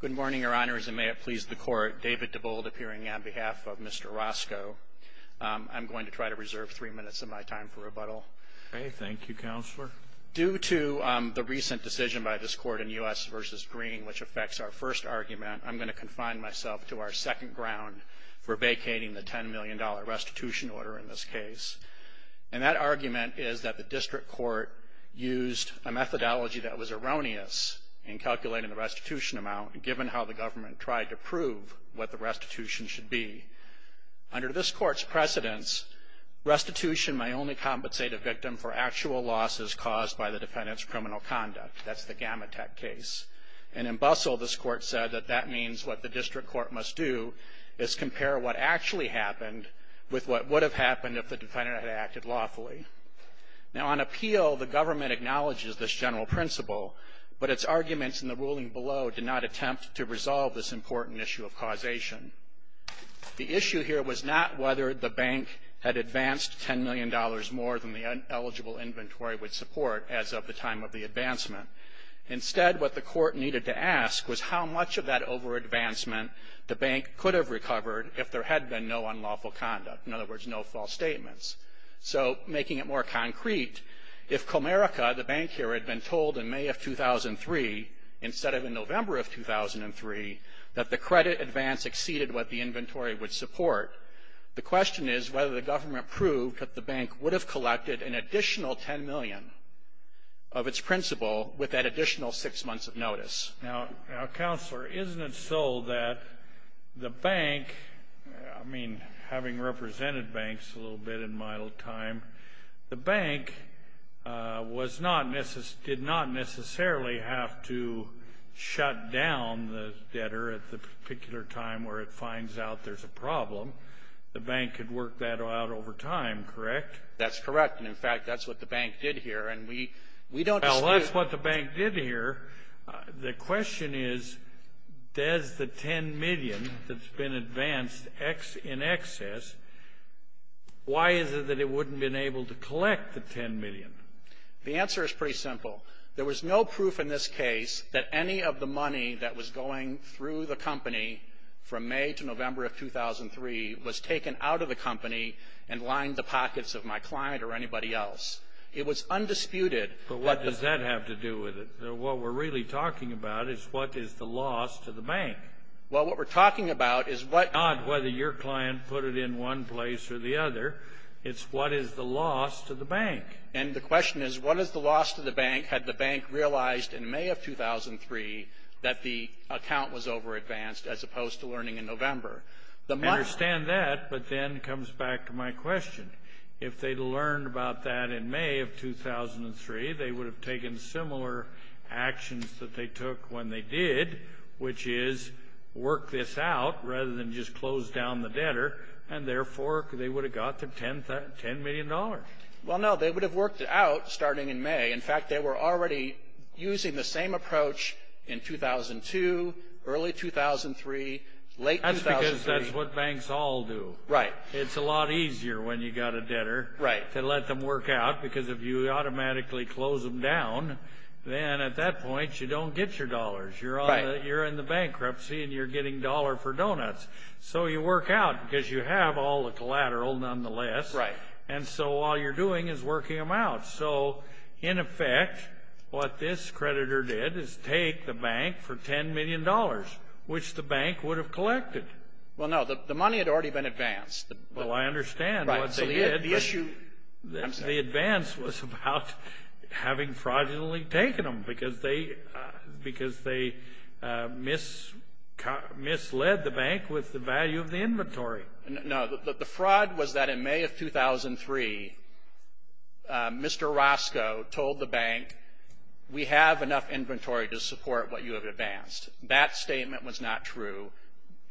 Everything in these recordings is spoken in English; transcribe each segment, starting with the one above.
Good morning, Your Honors, and may it please the Court, David DeBolt appearing on behalf of Mr. Roscoe. I'm going to try to reserve three minutes of my time for rebuttal. Okay, thank you, Counselor. Due to the recent decision by this Court in U.S. v. Green, which affects our first argument, I'm going to confine myself to our second ground for vacating the $10 million restitution order in this case. And that argument is that the District Court used a methodology that was erroneous in calculating the restitution amount, given how the government tried to prove what the restitution should be. Under this Court's precedence, restitution may only compensate a victim for actual losses caused by the defendant's criminal conduct. That's the Gamatech case. And in Bussell, this Court said that that means what the District Court must do is compare what actually happened with what would have happened if the defendant had acted lawfully. Now, on appeal, the government acknowledges this general principle, but its arguments in the ruling below do not attempt to resolve this important issue of causation. The issue here was not whether the bank had advanced $10 million more than the eligible inventory would support as of the time of the advancement. Instead, what the Court needed to ask was how much of that over-advancement the bank could have recovered if there had been no unlawful conduct, in other words, no false statements. So making it more concrete, if Comerica, the bank here, had been told in May of 2003, instead of in November of 2003, that the credit advance exceeded what the inventory would support, the question is whether the government proved that the bank would have collected an additional $10 million of its principle with that additional six months of notice. Now, Counselor, isn't it so that the bank, I mean, having represented banks a little bit in my time, the bank did not necessarily have to shut down the debtor at the particular time where it finds out there's a problem. The bank could work that out over time, correct? That's correct, and in fact, that's what the bank did here, and we don't dispute that. But that's what the bank did here. The question is, does the $10 million that's been advanced in excess, why is it that it wouldn't have been able to collect the $10 million? The answer is pretty simple. There was no proof in this case that any of the money that was going through the company from May to November of 2003 was taken out of the company and lined the pockets of my client or anybody else. It was undisputed that the bank didn't have to do with it. What we're really talking about is what is the loss to the bank. Well, what we're talking about is what you're talking about is not whether your client put it in one place or the other. It's what is the loss to the bank. And the question is, what is the loss to the bank had the bank realized in May of 2003 that the account was over-advanced as opposed to learning in November? The money — I understand that, but then it comes back to my question. If they'd learned about that in May of 2003, they would have taken similar actions that they took when they did, which is work this out rather than just close down the debtor, and therefore, they would have got the $10 million. Well, no. They would have worked it out starting in May. In fact, they were already using the same approach in 2002, early 2003, late 2003. That's because that's what banks all do. Right. It's a lot easier when you've got a debtor — Right. — to let them work out, because if you automatically close them down, then at that point, you don't get your dollars. Right. You're in the bankruptcy, and you're getting dollar for donuts. So you work out, because you have all the collateral nonetheless. Right. And so all you're doing is working them out. So in effect, what this creditor did is take the bank for $10 million, which the bank would have collected. Well, no. The money had already been advanced. Well, I understand what they did. The issue — The advance was about having fraudulently taken them, because they misled the bank with the value of the inventory. No. The fraud was that in May of 2003, Mr. Roscoe told the bank, we have enough inventory to support what you have advanced. That statement was not true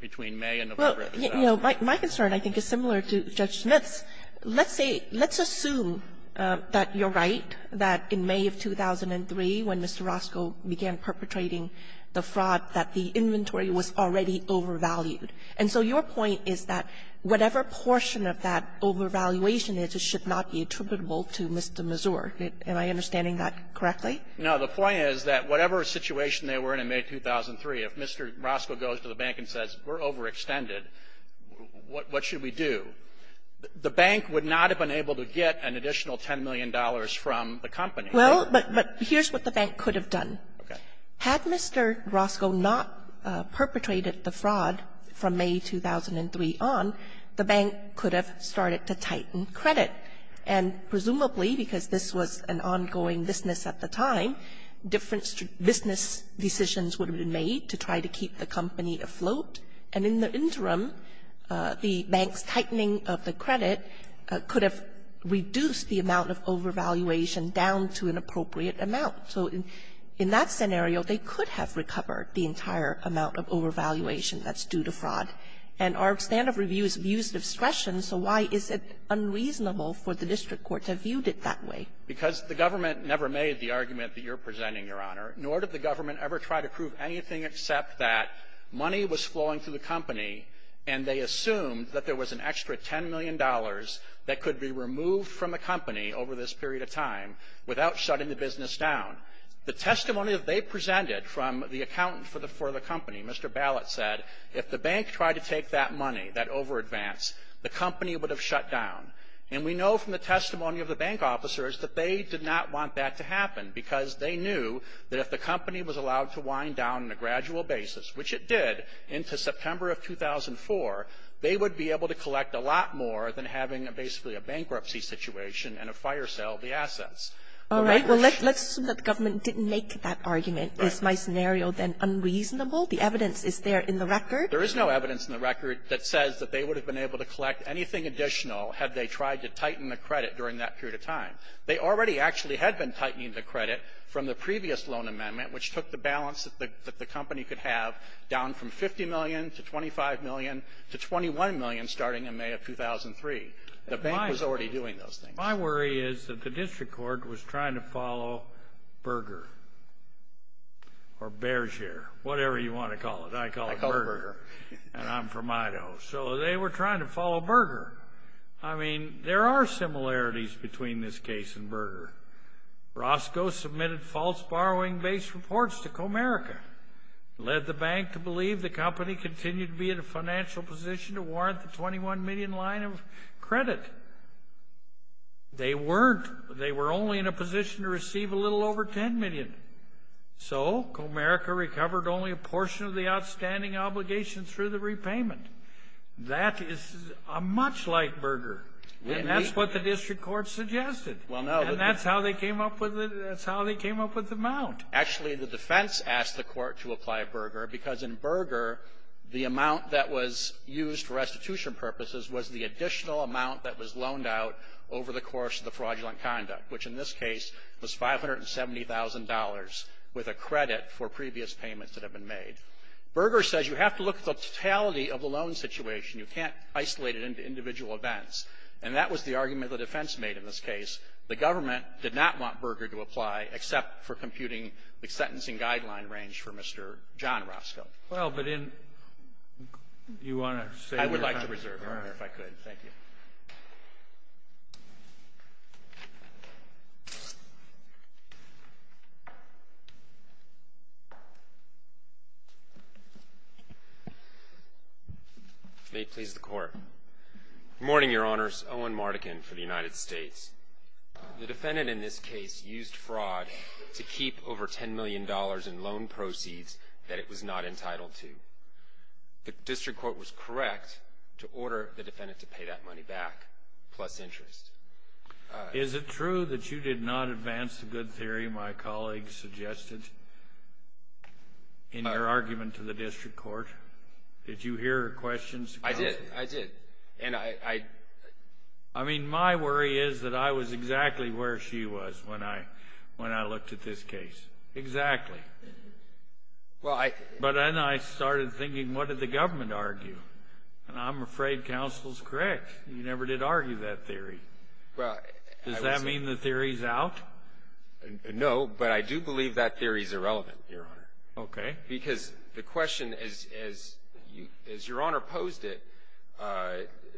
between May and November of 2003. You know, my concern, I think, is similar to Judge Smith's. Let's say — let's assume that you're right, that in May of 2003, when Mr. Roscoe began perpetrating the fraud, that the inventory was already overvalued. And so your point is that whatever portion of that overvaluation is, it should not be attributable to Mr. Mazur. Am I understanding that correctly? No. The point is that whatever situation they were in in May 2003, if Mr. Roscoe goes to the bank and says, we're overextended, what should we do? The bank would not have been able to get an additional $10 million from the company. Well, but — but here's what the bank could have done. Okay. Had Mr. Roscoe not perpetrated the fraud from May 2003 on, the bank could have started to tighten credit. And presumably, because this was an ongoing business at the time, different business decisions would have been made to try to keep the company afloat. And in the interim, the bank's tightening of the credit could have reduced the amount of overvaluation down to an appropriate amount. So in that scenario, they could have recovered the entire amount of overvaluation that's due to fraud. And our stand of review is abuse of discretion. So why is it unreasonable for the district court to have viewed it that way? Because the government never made the argument that you're presenting, Your Honor. Nor did the government ever try to prove anything except that money was flowing through the company, and they assumed that there was an extra $10 million that could be removed from the company over this period of time without shutting the business down. The testimony that they presented from the accountant for the company, Mr. Ballot said, if the bank tried to take that money, that overadvance, the company would have shut down. And we know from the testimony of the bank officers that they did not want that to happen, because they knew that if the company was allowed to wind down on a gradual basis, which it did into September of 2004, they would be able to collect a lot more than having basically a bankruptcy situation and a fire sale of the assets. All right. Well, let's assume that the government didn't make that argument. Is my scenario then unreasonable? The evidence is there in the record? There is no evidence in the record that says that they would have been able to tighten the credit during that period of time. They already actually had been tightening the credit from the previous loan amendment, which took the balance that the company could have down from $50 million to $25 million to $21 million starting in May of 2003. The bank was already doing those things. My worry is that the district court was trying to follow Berger or Bearshear, whatever you want to call it. I call it Berger, and I'm from Idaho. So they were trying to follow Berger. I mean, there are similarities between this case and Berger. Roscoe submitted false borrowing-based reports to Comerica, led the bank to believe the company continued to be in a financial position to warrant the $21 million line of credit. They weren't. They were only in a position to receive a little over $10 million. So Comerica recovered only a portion of the outstanding obligation through the repayment. That is much like Berger. And that's what the district court suggested. And that's how they came up with the amount. Actually, the defense asked the court to apply Berger because in Berger, the amount that was used for restitution purposes was the additional amount that was loaned out over the course of the fraudulent conduct, which in this case was $570,000 with a credit for previous payments that had been made. Berger says you have to look at the totality of the loan situation. You can't isolate it into individual events. And that was the argument the defense made in this case. The government did not want Berger to apply except for computing the sentencing guideline range for Mr. John Roscoe. Roberts. Well, but in you want to say you're going to reserve it. I would like to reserve it, if I could. Thank you. May it please the court. Morning, your honors. Owen Mardigan for the United States. The defendant in this case used fraud to keep over $10 million in loan proceeds that it was not entitled to. The district court was correct to order the defendant to pay that money back, plus interest. Is it true that you did not advance the good theory my colleague suggested in your argument to the district court? Did you hear her questions? I did. I did. And I, I. I mean, my worry is that I was exactly where she was when I, when I looked at this case. Exactly. Well, I. But then I started thinking, what did the government argue? And I'm afraid counsel's correct. You never did argue that theory. Well. Does that mean the theory's out? No, but I do believe that theory's irrelevant, your honor. Okay. Because the question, as, as you, as your honor posed it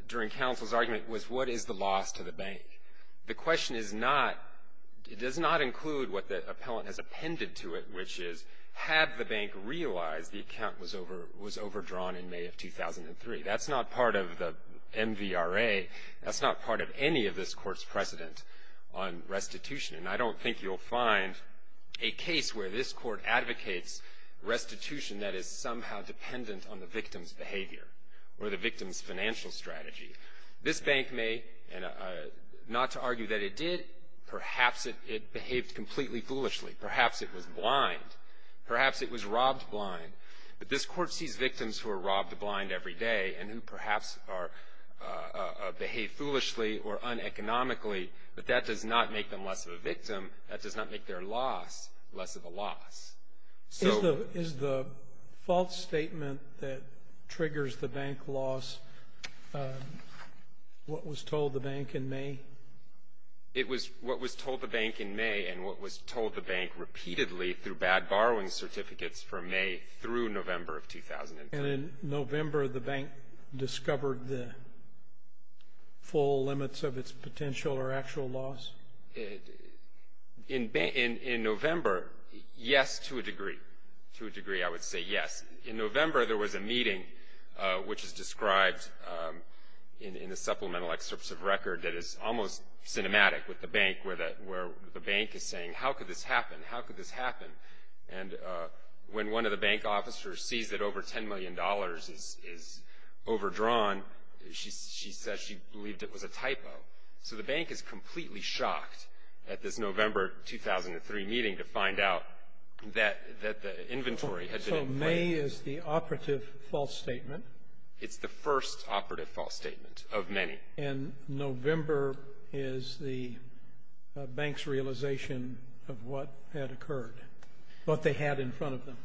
during counsel's argument, was what is the loss to the bank? The question is not, it does not include what the appellant has appended to it, which is, had the bank realized the account was over, was overdrawn in May of 2003. That's not part of the MVRA, that's not part of any of this court's precedent on restitution, and I don't think you'll find a case where this court advocates restitution that is somehow dependent on the victim's behavior or the victim's financial strategy. This bank may, and not to argue that it did, perhaps it, it behaved completely foolishly, perhaps it was blind, perhaps it was robbed blind. But this court sees victims who are robbed blind every day and who perhaps are behave foolishly or uneconomically. But that does not make them less of a victim, that does not make their loss less of a loss. So. Is the false statement that triggers the bank loss what was told the bank in May? It was what was told the bank in May and what was told the bank repeatedly through bad borrowing certificates from May through November of 2003. And in November, the bank discovered the full limits of its potential or actual loss? In November, yes, to a degree. To a degree, I would say yes. In November, there was a meeting which is described in the supplemental excerpts of record that is almost cinematic with the bank where the bank is saying, how could this happen, how could this happen? And when one of the bank officers sees that over $10 million is overdrawn, she says she believed it was a typo. So the bank is completely shocked at this November 2003 meeting to find out that the inventory had been in place. So May is the operative false statement? It's the first operative false statement of many. And November is the bank's realization of what had occurred, what they had in front of them?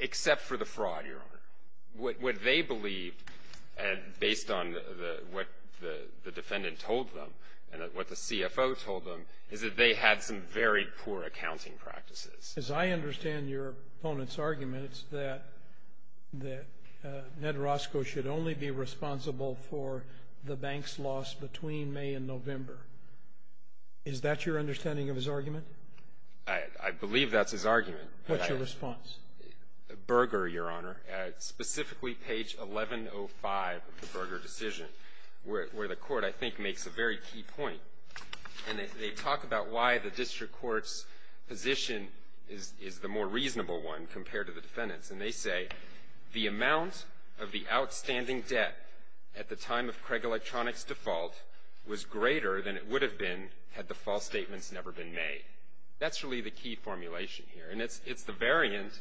Except for the fraud, Your Honor. What they believed, based on what the defendant told them and what the CFO told them, is that they had some very poor accounting practices. As I understand your opponent's argument, it's that Ned Roscoe should only be responsible for the bank's loss between May and November. Is that your understanding of his argument? I believe that's his argument. What's your response? Berger, Your Honor, specifically page 1105 of the Berger decision, where the court I think makes a very key point. And they talk about why the district court's position is the more reasonable one compared to the defendant's. And they say, the amount of the outstanding debt at the time of Craig Electronics' default was greater than it would have been had the false statements never been made. That's really the key formulation here. And it's the variant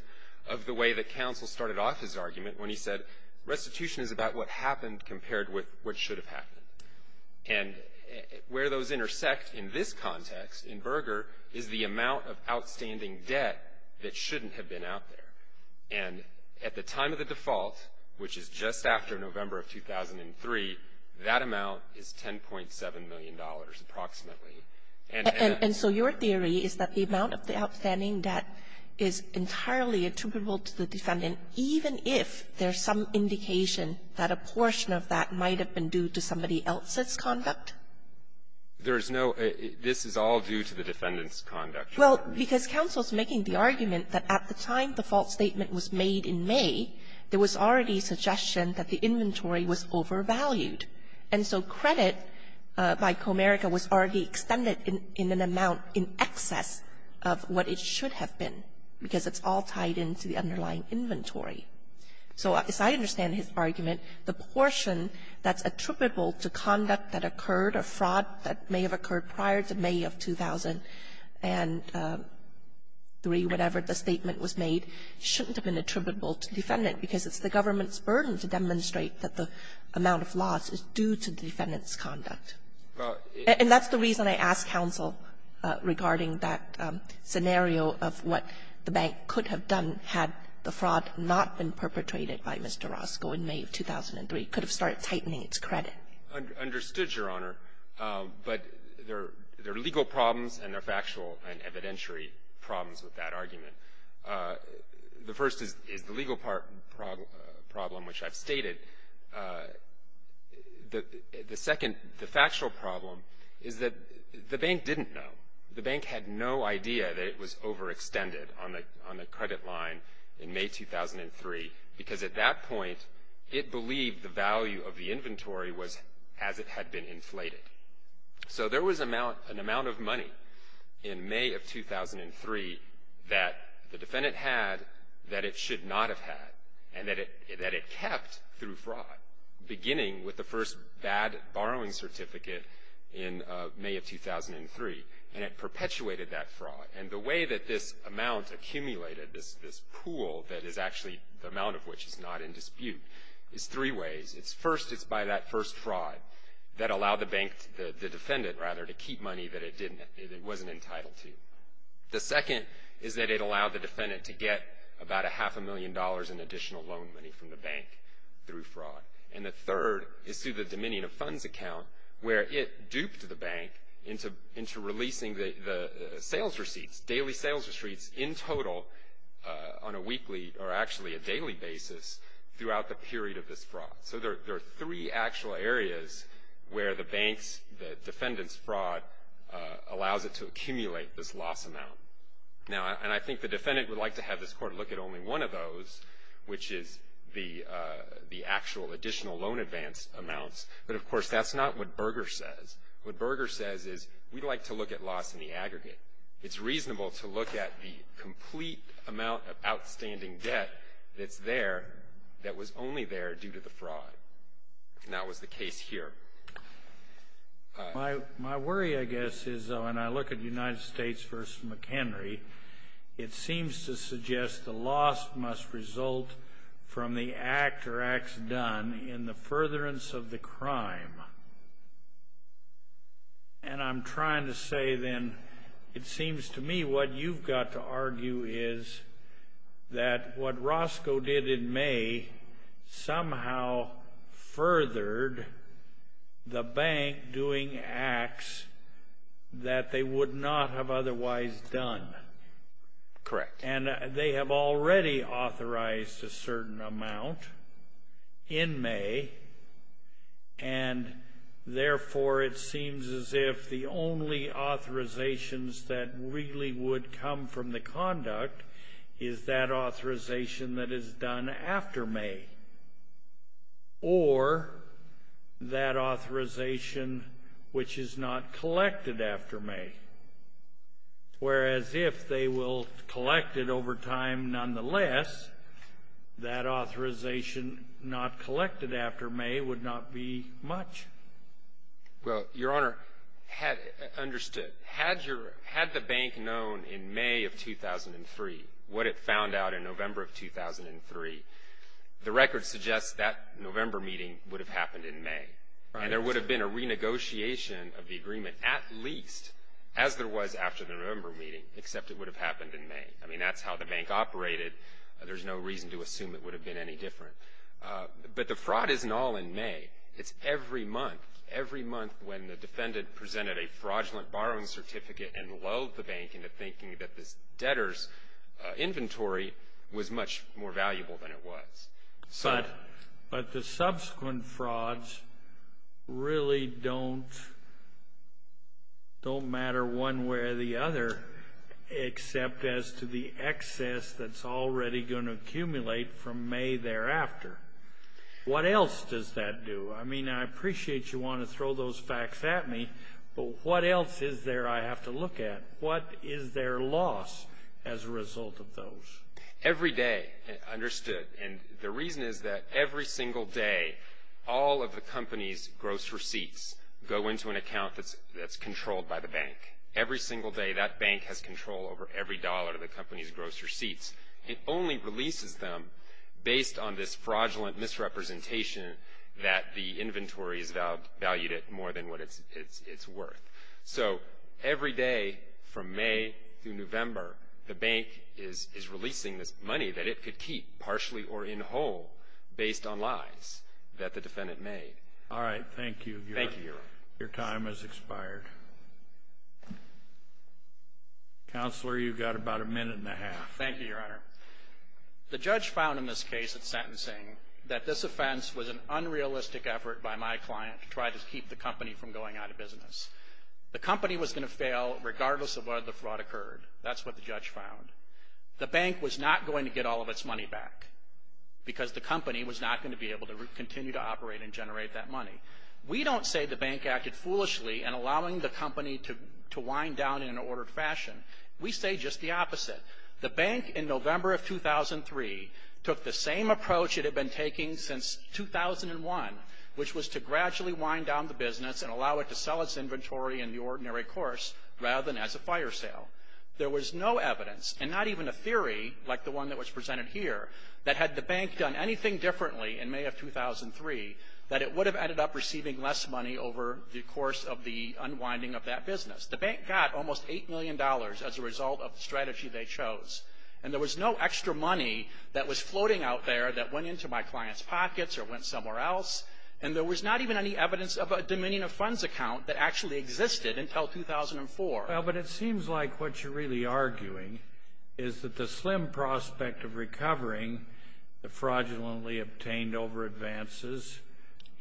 of the way that counsel started off his argument when he said, restitution is about what happened compared with what should have happened. And where those intersect in this context in Berger is the amount of outstanding debt that shouldn't have been out there. And at the time of the default, which is just after November of 2003, that amount is $10.7 million approximately. And so your theory is that the amount of the outstanding debt is entirely attributable to the defendant, even if there's some indication that a portion of that might have been due to somebody else's conduct? There is no — this is all due to the defendant's conduct. Well, because counsel's making the argument that at the time the false statement was made in May, there was already suggestion that the inventory was overvalued. And so credit by Comerica was already extended in an amount in excess of what it should have been, because it's all tied into the underlying inventory. So as I understand his argument, the portion that's attributable to conduct that occurred or fraud that may have occurred prior to May of 2003, whatever the statement was made, shouldn't have been attributable to the defendant, because it's the government's burden to demonstrate that the amount of loss is due to the defendant's conduct. And that's the reason I asked counsel regarding that scenario of what the bank could have done had the fraud not been perpetrated by Mr. Roscoe in May of 2003. It could have started tightening its credit. Understood, Your Honor. But there are legal problems and there are factual and evidentiary problems with that argument. The first is the legal problem, which I've stated. The second, the factual problem, is that the bank didn't know. The bank had no idea that it was overextended on the credit line in May 2003, because at that point, it believed the value of the inventory was as it had been inflated. So there was an amount of money in May of 2003 that the defendant had that it should not have had and that it kept through fraud, beginning with the first bad borrowing certificate in May of 2003. And it perpetuated that fraud. And the way that this amount accumulated, this pool that is actually the amount of which is not in dispute, is three ways. It's first, it's by that first fraud that allowed the bank, the defendant rather, to keep money that it wasn't entitled to. The second is that it allowed the defendant to get about a half a million dollars in additional loan money from the bank through fraud. And the third is through the Dominion of Funds account, where it duped the bank into releasing the sales receipts, daily sales receipts in total on a weekly or actually a daily basis throughout the period of this fraud. So there are three actual areas where the bank's, the defendant's fraud allows it to accumulate this loss amount. Now, and I think the defendant would like to have this court look at only one of those, which is the actual additional loan advance amounts. But of course, that's not what Berger says. What Berger says is, we'd like to look at loss in the aggregate. It's reasonable to look at the complete amount of outstanding debt that's there that was only there due to the fraud. And that was the case here. My worry, I guess, is when I look at United States v. McHenry, it seems to suggest the loss must result from the act or acts done in the furtherance of the crime. And I'm trying to say then, it seems to me what you've got to argue is that what Roscoe did in May somehow furthered the bank doing acts that they would not have otherwise done. Correct. And they have already authorized a certain amount in May. And therefore, it seems as if the only authorizations that really would come from the conduct is that authorization that is done after May or that authorization which is not collected after May. Whereas if they will collect it over time nonetheless, that authorization not collected after May would not be much. Well, Your Honor, understood. Had the bank known in May of 2003 what it found out in November of 2003, the record suggests that November meeting would have happened in May. And there would have been a renegotiation of the agreement at least as there was after the November meeting, except it would have happened in May. I mean, that's how the bank operated. There's no reason to assume it would have been any different. But the fraud isn't all in May. It's every month. Every month when the defendant presented a fraudulent borrowing certificate and lulled the bank into thinking that this debtor's inventory was much more valuable than it was. But the subsequent frauds really don't matter one way or the other except as to the excess that's already going to accumulate from May thereafter. What else does that do? I mean, I appreciate you want to throw those facts at me. But what else is there I have to look at? What is their loss as a result of those? Every day, understood, and the reason is that every single day, all of the company's gross receipts go into an account that's controlled by the bank. Every single day, that bank has control over every dollar of the company's gross receipts. It only releases them based on this fraudulent misrepresentation that the inventory is valued at more than what it's worth. So every day from May through November, the bank is releasing this money that it could keep partially or in whole based on lies that the defendant made. All right. Thank you. Thank you, Your Honor. Your time has expired. Counselor, you've got about a minute and a half. Thank you, Your Honor. The judge found in this case of sentencing that this offense was an unrealistic effort by my client to try to keep the company from going out of business. The company was going to fail regardless of whether the fraud occurred. That's what the judge found. The bank was not going to get all of its money back because the company was not going to be able to continue to operate and generate that money. We don't say the bank acted foolishly in allowing the company to wind down in an ordered fashion. We say just the opposite. The bank in November of 2003 took the same approach it had been taking since 2001, which was to gradually wind down the business and allow it to sell its inventory in the ordinary course rather than as a fire sale. There was no evidence and not even a theory like the one that was presented here that had the bank done anything differently in May of 2003 that it would have ended up receiving less money over the course of the unwinding of that business. The bank got almost $8 million as a result of the strategy they chose. And there was no extra money that was floating out there that went into my client's pockets or went somewhere else. And there was not even any evidence of a Dominion of Funds account that actually existed until 2004. Well, but it seems like what you're really arguing is that the slim prospect of recovering the fraudulently obtained over advances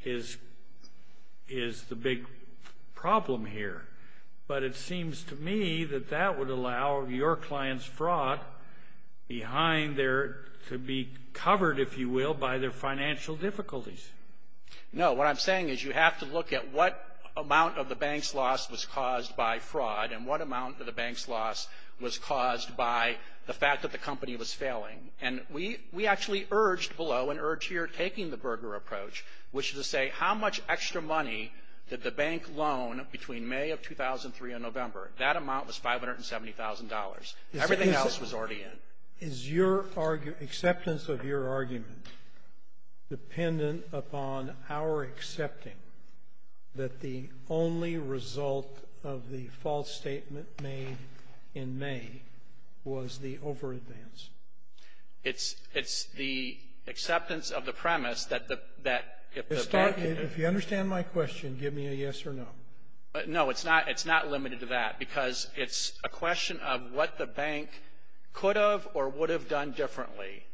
is the big problem here. But it seems to me that that would allow your client's fraud behind there to be covered, if you will, by their financial difficulties. No. What I'm saying is you have to look at what amount of the bank's loss was caused by fraud and what amount of the bank's loss was caused by the fact that the company was failing. And we actually urged below and urged here taking the Berger approach, which is to say how much extra money did the bank loan between May of 2003 and November. That amount was $570,000. Everything else was already in. Is your acceptance of your argument dependent upon our accepting that the only result of the false statement made in May was the over-advance? It's the acceptance of the premise that the bank If you understand my question, give me a yes or no. No, it's not limited to that. Because it's a question of what the bank could have or would have done differently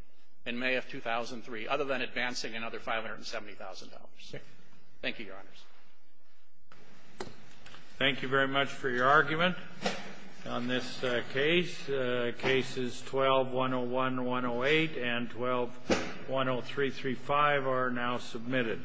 in May of 2003 other than advancing another $570,000. Thank you, Your Honors. Thank you very much for your argument on this case. Cases 12-101-108 and 12-10335 are now submitted.